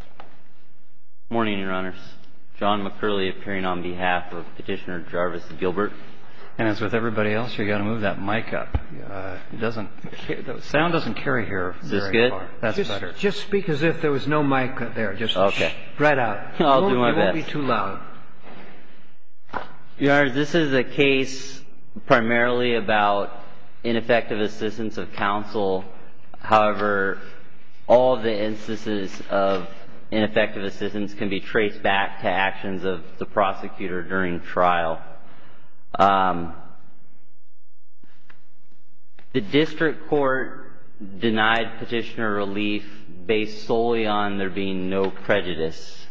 Good morning, Your Honors. John McCurley appearing on behalf of Petitioner Jarvis Gilbert. And as with everybody else, you've got to move that mic up. The sound doesn't carry here very far. Is this good? That's better. Just speak as if there was no mic there. Just right out. I'll do my best. It won't be too loud. Your Honors, this is a case primarily about ineffective assistance of counsel. However, all of the instances of ineffective assistance can be traced back to actions of the prosecutor during trial. The district court denied petitioner relief based solely on there being no prejudice.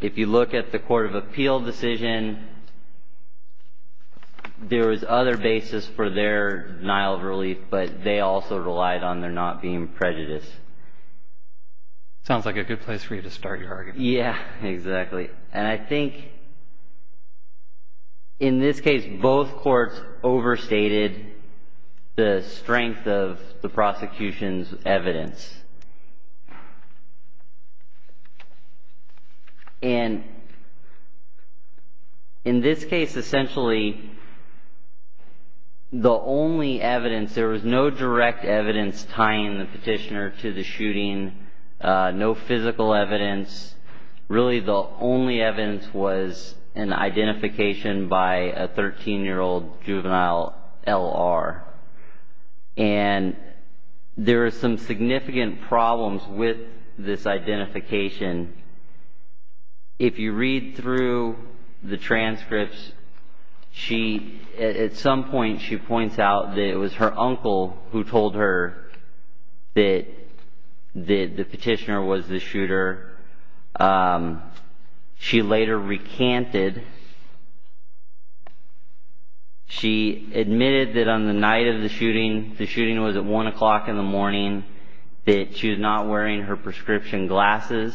If you look at the court of appeal decision, there was other basis for their denial of relief, but they also relied on there not being prejudice. Sounds like a good place for you to start your argument. Yeah, exactly. And I think in this case, both courts overstated the strength of the prosecution's evidence. And in this case, essentially, the only evidence, there was no direct evidence tying the petitioner to the shooting, no physical evidence. Really, the only evidence was an identification by a 13-year-old juvenile L.R. And there are some significant problems with this identification. If you read through the transcripts, at some point she points out that it was her uncle who told her that the petitioner was the shooter. She later recanted. She admitted that on the night of the shooting, the shooting was at 1 o'clock in the morning, that she was not wearing her prescription glasses,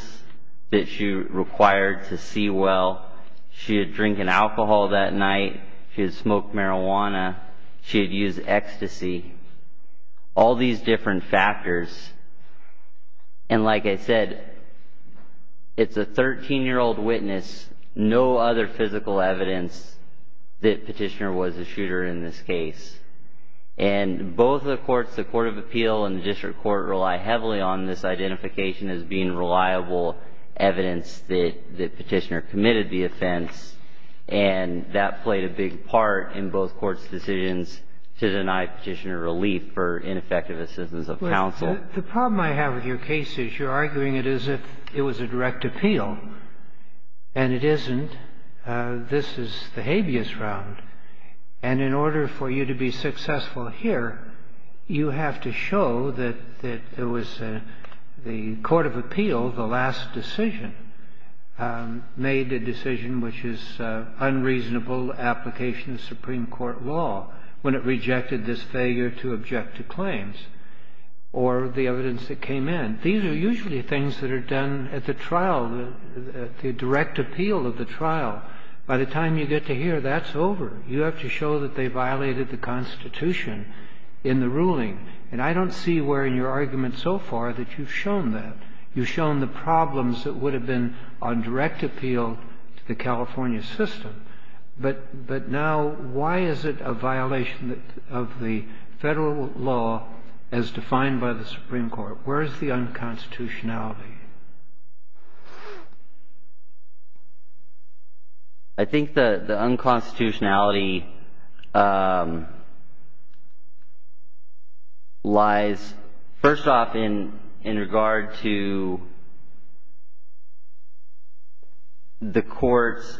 that she required to see well. She had drank an alcohol that night. She had smoked marijuana. She had used ecstasy. All these different factors. And like I said, it's a 13-year-old witness, no other physical evidence that the petitioner was the shooter in this case. And both the courts, the Court of Appeal and the District Court, rely heavily on this identification as being reliable evidence that the petitioner committed the offense. And that played a big part in both courts' decisions to deny petitioner relief for ineffective assistance of counsel. The problem I have with your case is you're arguing it as if it was a direct appeal. And it isn't. This is the habeas round. And in order for you to be successful here, you have to show that it was the Court of Appeal, the last decision, made a decision which is unreasonable application of Supreme Court law when it rejected this failure to object to claims or the evidence that came in. These are usually things that are done at the trial, the direct appeal of the trial. By the time you get to here, that's over. You have to show that they violated the Constitution in the ruling. And I don't see where in your argument so far that you've shown that. You've shown the problems that would have been on direct appeal to the California system. But now why is it a violation of the Federal law as defined by the Supreme Court? Where is the unconstitutionality? I think the unconstitutionality lies, first off, in regard to the courts.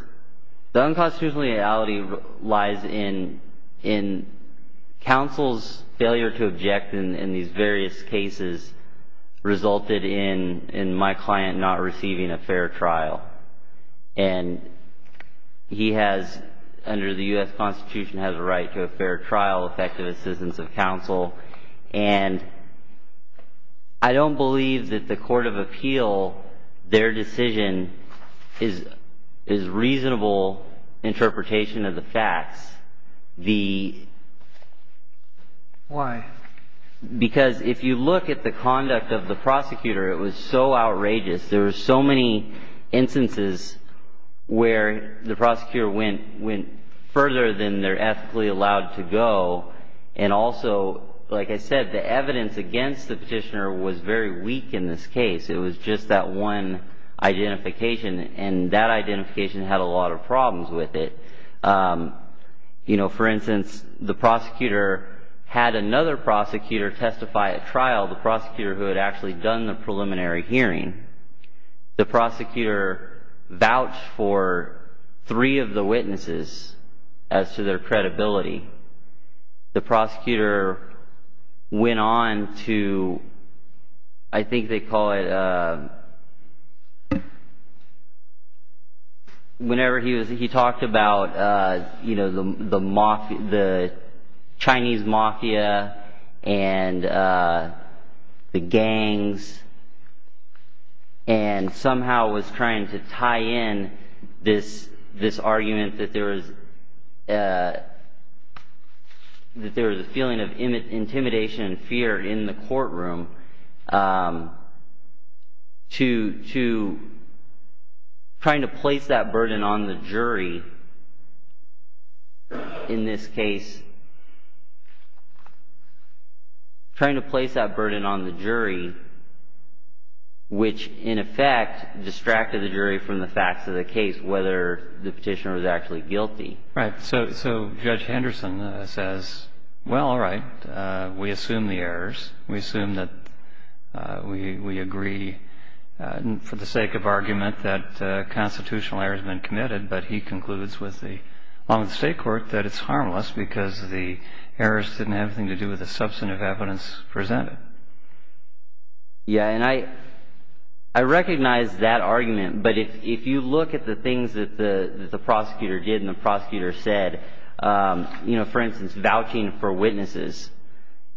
The unconstitutionality lies in counsel's failure to object in these various cases resulted in my client not receiving a fair trial. And he has, under the U.S. Constitution, has a right to a fair trial, effective assistance of counsel. And I don't believe that the court of appeal, their decision, is reasonable interpretation of the facts. The… Why? Because if you look at the conduct of the prosecutor, it was so outrageous. There were so many instances where the prosecutor went further than they're ethically allowed to go. And also, like I said, the evidence against the petitioner was very weak in this case. It was just that one identification. And that identification had a lot of problems with it. You know, for instance, the prosecutor had another prosecutor testify at trial, the prosecutor who had actually done the preliminary hearing. And the prosecutor vouched for three of the witnesses as to their credibility. The prosecutor went on to – I think they call it – whenever he was – he talked about the Chinese mafia and the gangs. And somehow was trying to tie in this argument that there was a feeling of intimidation and fear in the courtroom. Trying to place that burden on the jury, which in effect distracted the jury from the facts of the case, whether the petitioner was actually guilty. Right. So Judge Henderson says, well, all right, we assume the errors. We agree, for the sake of argument, that constitutional error has been committed. But he concludes with the state court that it's harmless because the errors didn't have anything to do with the substantive evidence presented. Yeah. And I recognize that argument. But if you look at the things that the prosecutor did and the prosecutor said, you know, for instance, vouching for witnesses,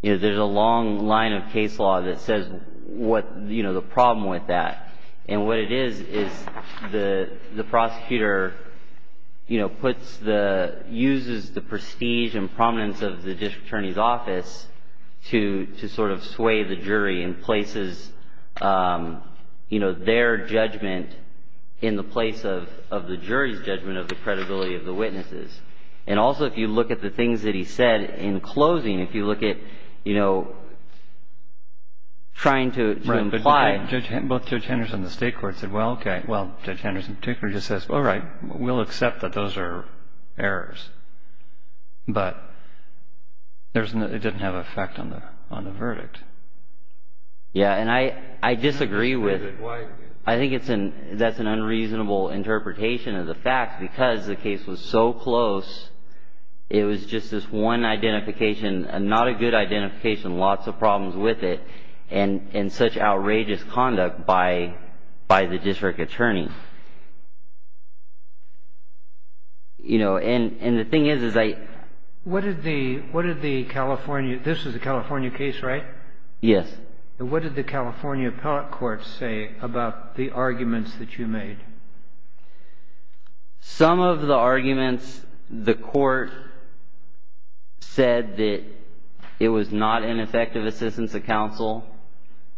you know, there's a long line of case law that says what – you know, the problem with that. And what it is is the prosecutor, you know, puts the – uses the prestige and prominence of the district attorney's office to sort of sway the jury and places, you know, their judgment in the place of the jury's judgment of the credibility of the witnesses. And also, if you look at the things that he said in closing, if you look at, you know, trying to imply – Right, but both Judge Henderson and the state court said, well, okay – well, Judge Henderson in particular just says, all right, we'll accept that those are errors, but there's – it didn't have an effect on the verdict. Yeah. And I disagree with – Why – I think it's an – that's an unreasonable interpretation of the facts because the case was so close, it was just this one identification, not a good identification, lots of problems with it, and such outrageous conduct by the district attorney. You know, and the thing is, is I – What did the – what did the California – this is a California case, right? Yes. And what did the California appellate court say about the arguments that you made? Some of the arguments, the court said that it was not an effective assistance to counsel,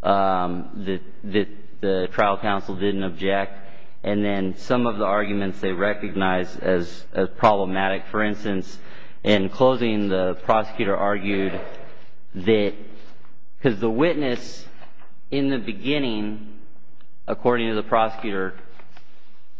that the trial counsel didn't object, and then some of the arguments they recognized as problematic. For instance, in closing, the prosecutor argued that – because the witness in the beginning, according to the prosecutor,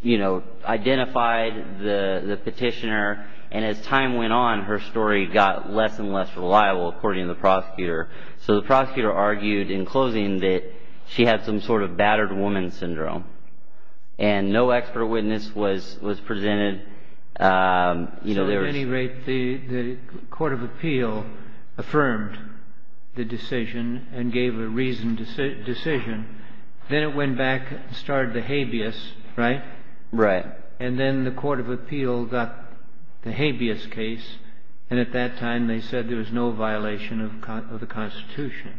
you know, identified the petitioner, and as time went on, her story got less and less reliable, according to the prosecutor. So the prosecutor argued in closing that she had some sort of battered woman syndrome, and no expert witness was presented. You know, there was – So at any rate, the court of appeal affirmed the decision and gave a reasoned decision. Then it went back and started the habeas, right? Right. And then the court of appeal got the habeas case, and at that time they said there was no violation of the Constitution.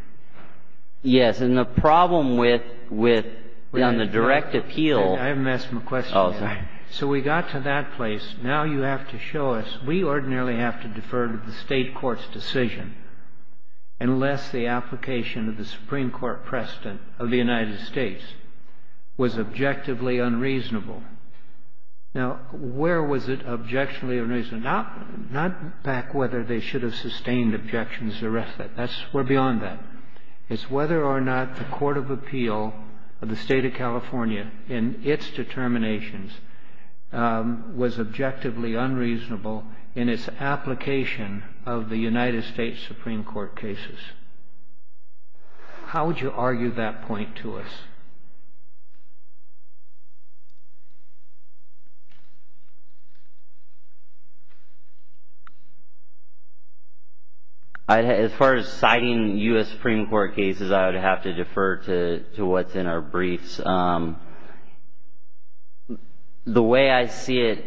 Yes. And the problem with – on the direct appeal – I haven't asked my question yet. Oh, sorry. So we got to that place. Now you have to show us – we ordinarily have to defer to the State court's decision unless the application of the Supreme Court precedent of the United States was objectively unreasonable. Now, where was it objectionably unreasonable? Not back whether they should have sustained objections, the rest of it. That's – we're beyond that. It's whether or not the court of appeal of the State of California, in its determinations, was objectively unreasonable in its application of the United States Supreme Court cases. How would you argue that point to us? As far as citing U.S. Supreme Court cases, I would have to defer to what's in our briefs. The way I see it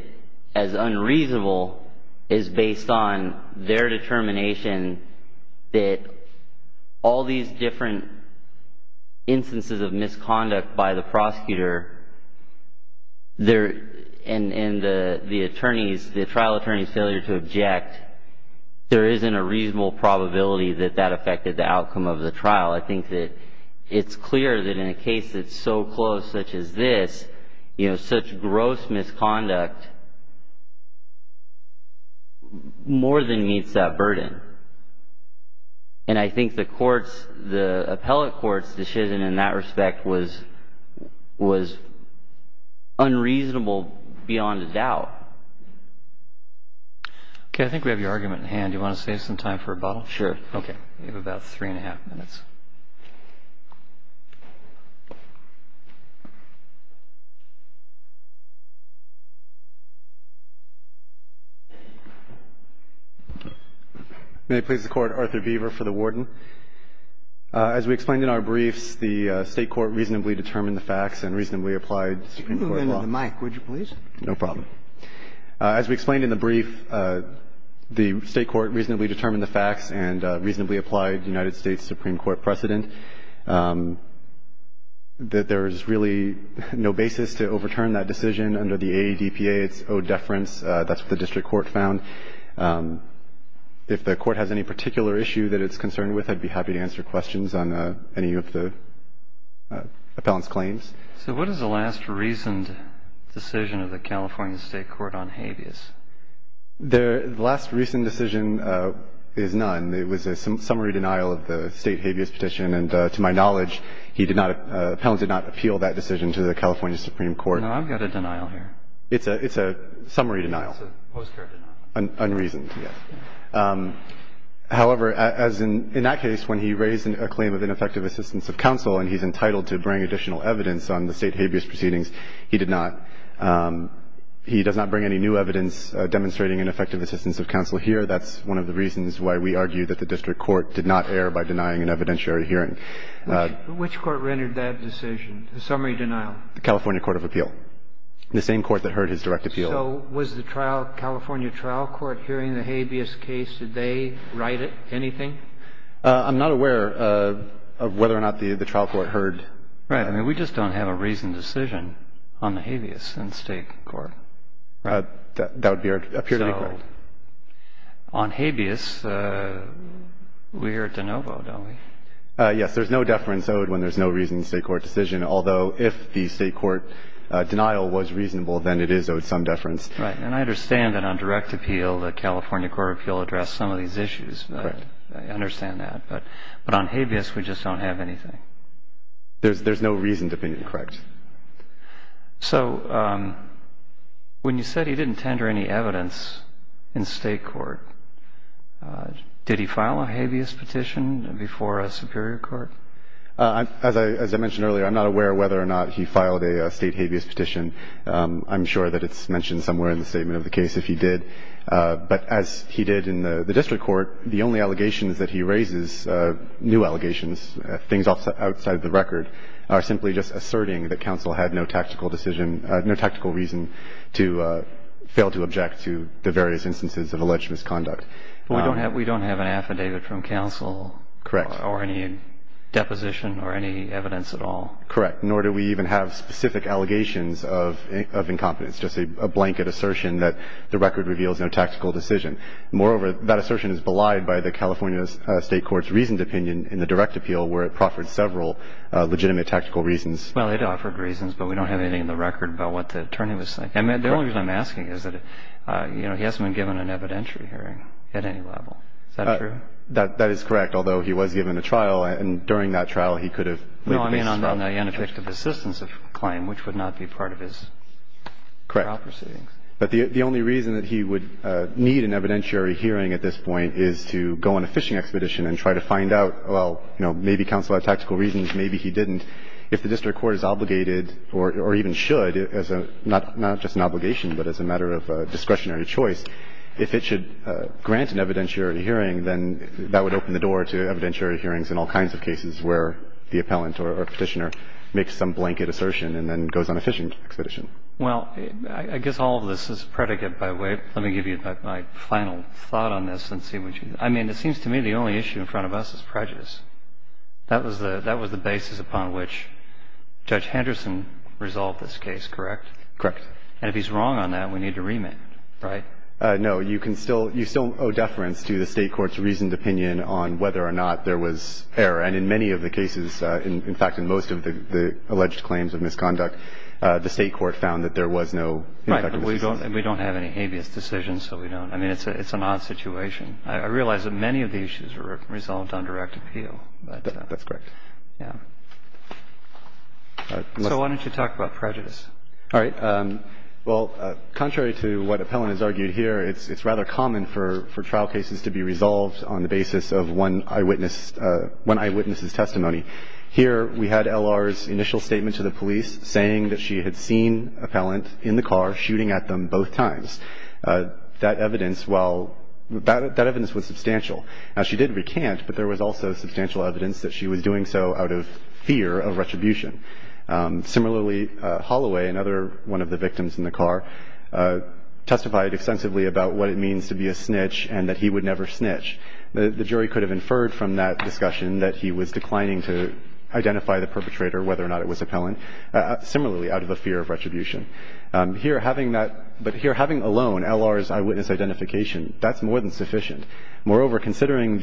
as unreasonable is based on their determination that all these different instances of misconduct by the prosecutor and the attorneys, the trial attorney's failure to object, there isn't a reasonable probability that that affected the outcome of the trial. I think that it's clear that in a case that's so close, such as this, you know, such gross misconduct more than meets that burden. And I think the court's – the appellate court's decision in that respect was unreasonable beyond a doubt. Okay. I think we have your argument in hand. Do you want to save some time for rebuttal? Sure. Okay. We have about three-and-a-half minutes. May it please the Court. Arthur Beaver for the Warden. As we explained in our briefs, the State court reasonably determined the facts and reasonably applied the Supreme Court law. Could you move into the mic, would you please? No problem. As we explained in the brief, the State court reasonably determined the facts and reasonably applied United States Supreme Court precedent that there is really no basis to overturn that decision under the AADPA. It's owed deference. That's what the district court found. If the court has any particular issue that it's concerned with, I'd be happy to answer questions on any of the appellant's claims. So what is the last reasoned decision of the California State court on habeas? The last reasoned decision is none. It was a summary denial of the State habeas petition. And to my knowledge, he did not – the appellant did not appeal that decision to the California Supreme Court. No, I've got a denial here. It's a summary denial. It's a postcard denial. Unreasoned, yes. However, as in that case, when he raised a claim of ineffective assistance of counsel and he's entitled to bring additional evidence on the State habeas proceedings, he did not. He does not bring any new evidence demonstrating ineffective assistance of counsel here. That's one of the reasons why we argue that the district court did not err by denying an evidentiary hearing. Which court rendered that decision, the summary denial? The California court of appeal, the same court that heard his direct appeal. So was the trial – California trial court hearing the habeas case, did they write it, anything? I'm not aware of whether or not the trial court heard. Right. I mean, we just don't have a reasoned decision on the habeas in State court. That would be our – appear to be correct. So on habeas, we're at de novo, don't we? Yes. There's no deference owed when there's no reasoned State court decision, although if the State court denial was reasonable, then it is owed some deference. Right. And I understand that on direct appeal, the California court of appeal addressed some of these issues. Correct. I understand that. But on habeas, we just don't have anything. There's no reasoned opinion, correct. So when you said he didn't tender any evidence in State court, did he file a habeas petition before a superior court? As I mentioned earlier, I'm not aware of whether or not he filed a State habeas petition. I'm sure that it's mentioned somewhere in the statement of the case if he did. But as he did in the district court, the only allegations that he raises, new allegations, things outside the record, are simply just asserting that counsel had no tactical decision – no tactical reason to fail to object to the various instances of alleged misconduct. But we don't have an affidavit from counsel. Correct. Or any deposition or any evidence at all. Correct. Nor do we even have specific allegations of incompetence, just a blanket assertion that the record reveals no tactical decision. Moreover, that assertion is belied by the California State court's reasoned opinion in the direct appeal where it proffered several legitimate tactical reasons. Well, it offered reasons, but we don't have anything in the record about what the attorney was saying. And the only reason I'm asking is that he hasn't been given an evidentiary hearing at any level. Is that true? That is correct. Although he was given a trial, and during that trial he could have made the basis for other claims. No, I mean on the ineffective assistance claim, which would not be part of his proper sittings. Correct. But the only reason that he would need an evidentiary hearing at this point is to go on a fishing expedition and try to find out, well, you know, maybe counsel had tactical reasons, maybe he didn't. If the district court is obligated or even should, not just an obligation, but as a matter of discretionary choice, if it should grant an evidentiary hearing, then that would open the door to evidentiary hearings in all kinds of cases where the appellant or Petitioner makes some blanket assertion and then goes on a fishing expedition. Well, I guess all of this is predicate, by the way. Let me give you my final thought on this and see what you think. I mean, it seems to me the only issue in front of us is prejudice. That was the basis upon which Judge Henderson resolved this case, correct? Correct. And if he's wrong on that, we need to remake it, right? No. You can still – you still owe deference to the State court's reasoned opinion on whether or not there was error. And in many of the cases, in fact, in most of the alleged claims of misconduct, the State court found that there was no ineffective decision. Right. But we don't have any habeas decisions, so we don't – I mean, it's an odd situation. I realize that many of the issues were resolved on direct appeal, but – Yeah. So why don't you talk about prejudice? All right. Well, contrary to what Appellant has argued here, it's rather common for trial cases to be resolved on the basis of one eyewitness's testimony. Here we had L.R.'s initial statement to the police saying that she had seen Appellant in the car shooting at them both times. That evidence, while – that evidence was substantial. Now, she did recant, but there was also substantial evidence that she was doing so out of fear of retribution. Similarly, Holloway, another one of the victims in the car, testified extensively about what it means to be a snitch and that he would never snitch. The jury could have inferred from that discussion that he was declining to identify the perpetrator, whether or not it was Appellant, similarly out of a fear of retribution. Here, having that – but here, having alone L.R.'s eyewitness identification, that's more than sufficient. Moreover, considering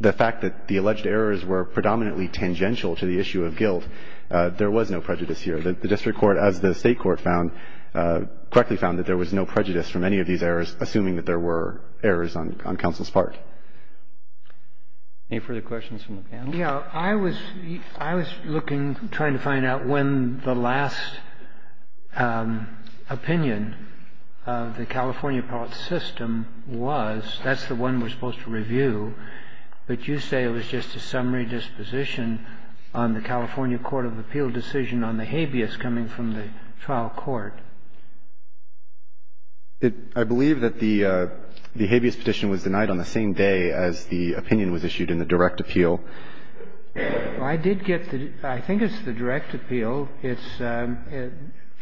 the fact that the alleged errors were predominantly tangential to the issue of guilt, there was no prejudice here. The district court, as the state court found – correctly found that there was no prejudice from any of these errors, assuming that there were errors on counsel's part. Any further questions from the panel? Yeah. I was looking, trying to find out when the last opinion of the California appellate system was. That's the one we're supposed to review. But you say it was just a summary disposition on the California court of appeal decision on the habeas coming from the trial court. I believe that the habeas petition was denied on the same day as the opinion was issued in the direct appeal. Well, I did get the – I think it's the direct appeal.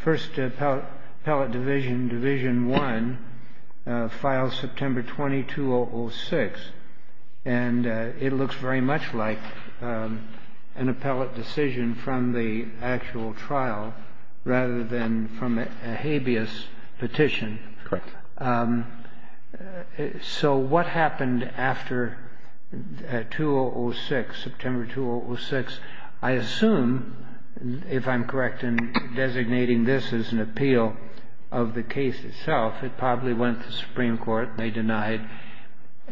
First appellate division, division one, filed September 20, 2006. And it looks very much like an appellate decision from the actual trial, rather than from a habeas petition. Correct. So what happened after 2006, September 2006? I assume, if I'm correct in designating this as an appeal of the case itself, it probably went to the Supreme Court and they denied.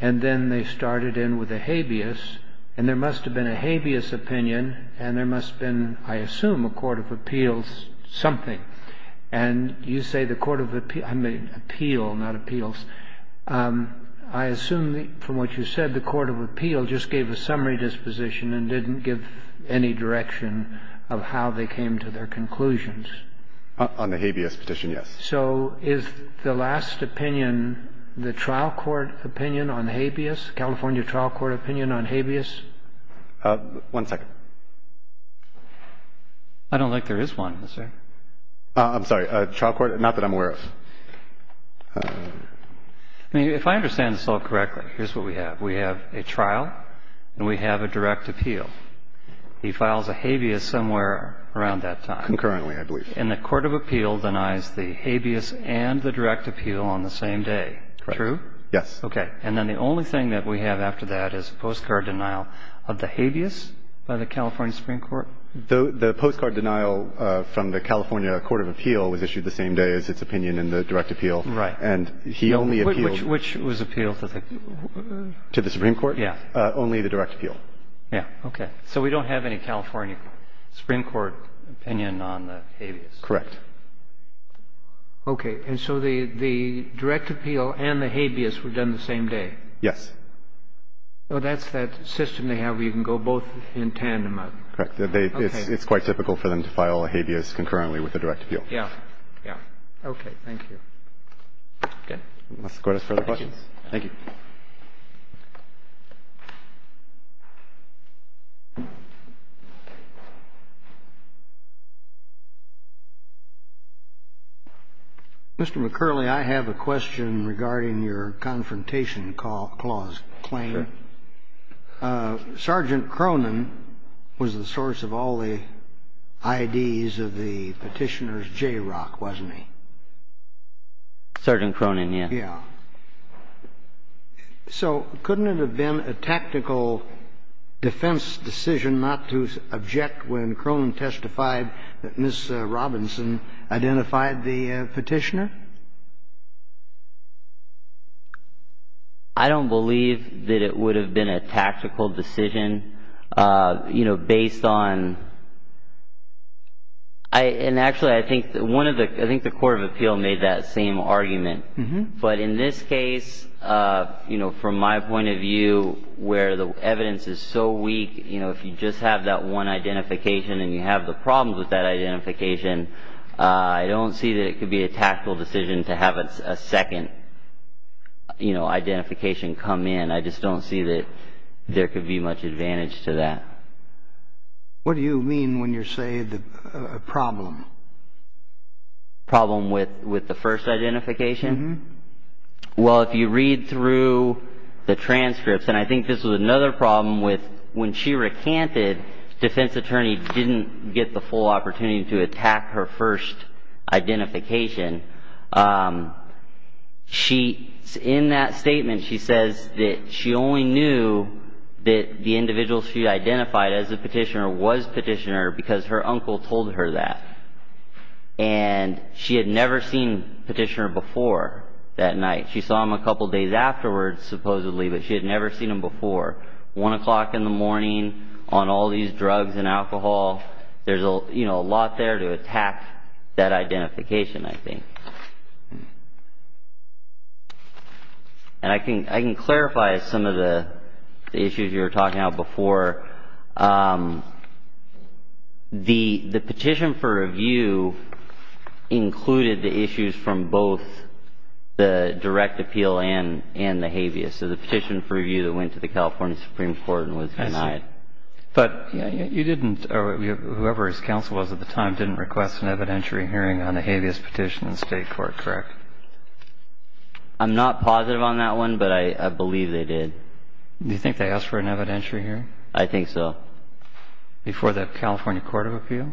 And then they started in with a habeas, and there must have been a habeas opinion, and there must have been, I assume, a court of appeals something. And you say the court of – I mean, appeal, not appeals. I assume from what you said, the court of appeal just gave a summary disposition and didn't give any direction of how they came to their conclusions. On the habeas petition, yes. So is the last opinion the trial court opinion on habeas, California trial court opinion on habeas? One second. I don't think there is one. I'm sorry. Trial court? Not that I'm aware of. I mean, if I understand this all correctly, here's what we have. We have a trial and we have a direct appeal. He files a habeas somewhere around that time. Concurrently, I believe. And the court of appeal denies the habeas and the direct appeal on the same day. True? Yes. Okay. And then the only thing that we have after that is postcard denial of the habeas by the California Supreme Court? The postcard denial from the California court of appeal was issued the same day as its opinion in the direct appeal. Right. And he only appealed. Which was appealed? To the Supreme Court? Yes. Only the direct appeal. Yes. Okay. So we don't have any California Supreme Court opinion on the habeas. Correct. Okay. And so the direct appeal and the habeas were done the same day? Yes. Well, that's that system they have where you can go both in tandem. Correct. It's quite typical for them to file a habeas concurrently with the direct appeal. Yes. Yes. Okay. Thank you. Okay. Let's go to further questions. Thank you. Mr. McCurley, I have a question regarding your confrontation clause claim. Sure. I have a question. Sergeant Cronin was the source of all the IDs of the petitioner's JROC, wasn't he? Sergeant Cronin, yes. Yes. So couldn't it have been a tactical defense decision not to object when Cronin testified that Ms. Robinson identified the petitioner? I don't believe that it would have been a tactical decision, you know, based on, and actually I think the court of appeal made that same argument. But in this case, you know, from my point of view where the evidence is so weak, you know, if you just have that one identification and you have the problems with that identification, I don't see that it could be a tactical decision to have a second, you know, identification come in. I just don't see that there could be much advantage to that. What do you mean when you say a problem? Problem with the first identification? Uh-huh. Well, if you read through the transcripts, and I think this was another problem with when she recanted, defense attorney didn't get the full opportunity to attack her first identification. In that statement, she says that she only knew that the individual she identified as a petitioner was petitioner because her uncle told her that. And she had never seen petitioner before that night. She saw him a couple days afterwards, supposedly, but she had never seen him before. One o'clock in the morning on all these drugs and alcohol, there's, you know, a lot there to attack that identification, I think. And I can clarify some of the issues you were talking about before. The petition for review included the issues from both the direct appeal and the habeas. So the petition for review that went to the California Supreme Court was denied. I see. But you didn't or whoever his counsel was at the time didn't request an evidentiary hearing on the habeas petition in state court, correct? I'm not positive on that one, but I believe they did. Do you think they asked for an evidentiary hearing? I think so. Before the California Court of Appeal?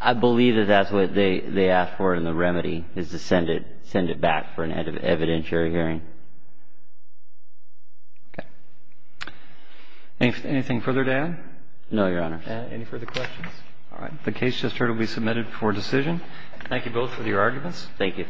I believe that that's what they asked for in the remedy, is to send it back for an evidentiary hearing. Okay. Anything further to add? No, Your Honor. Any further questions? All right. The case just heard will be submitted for decision. Thank you both for your arguments. Thank you.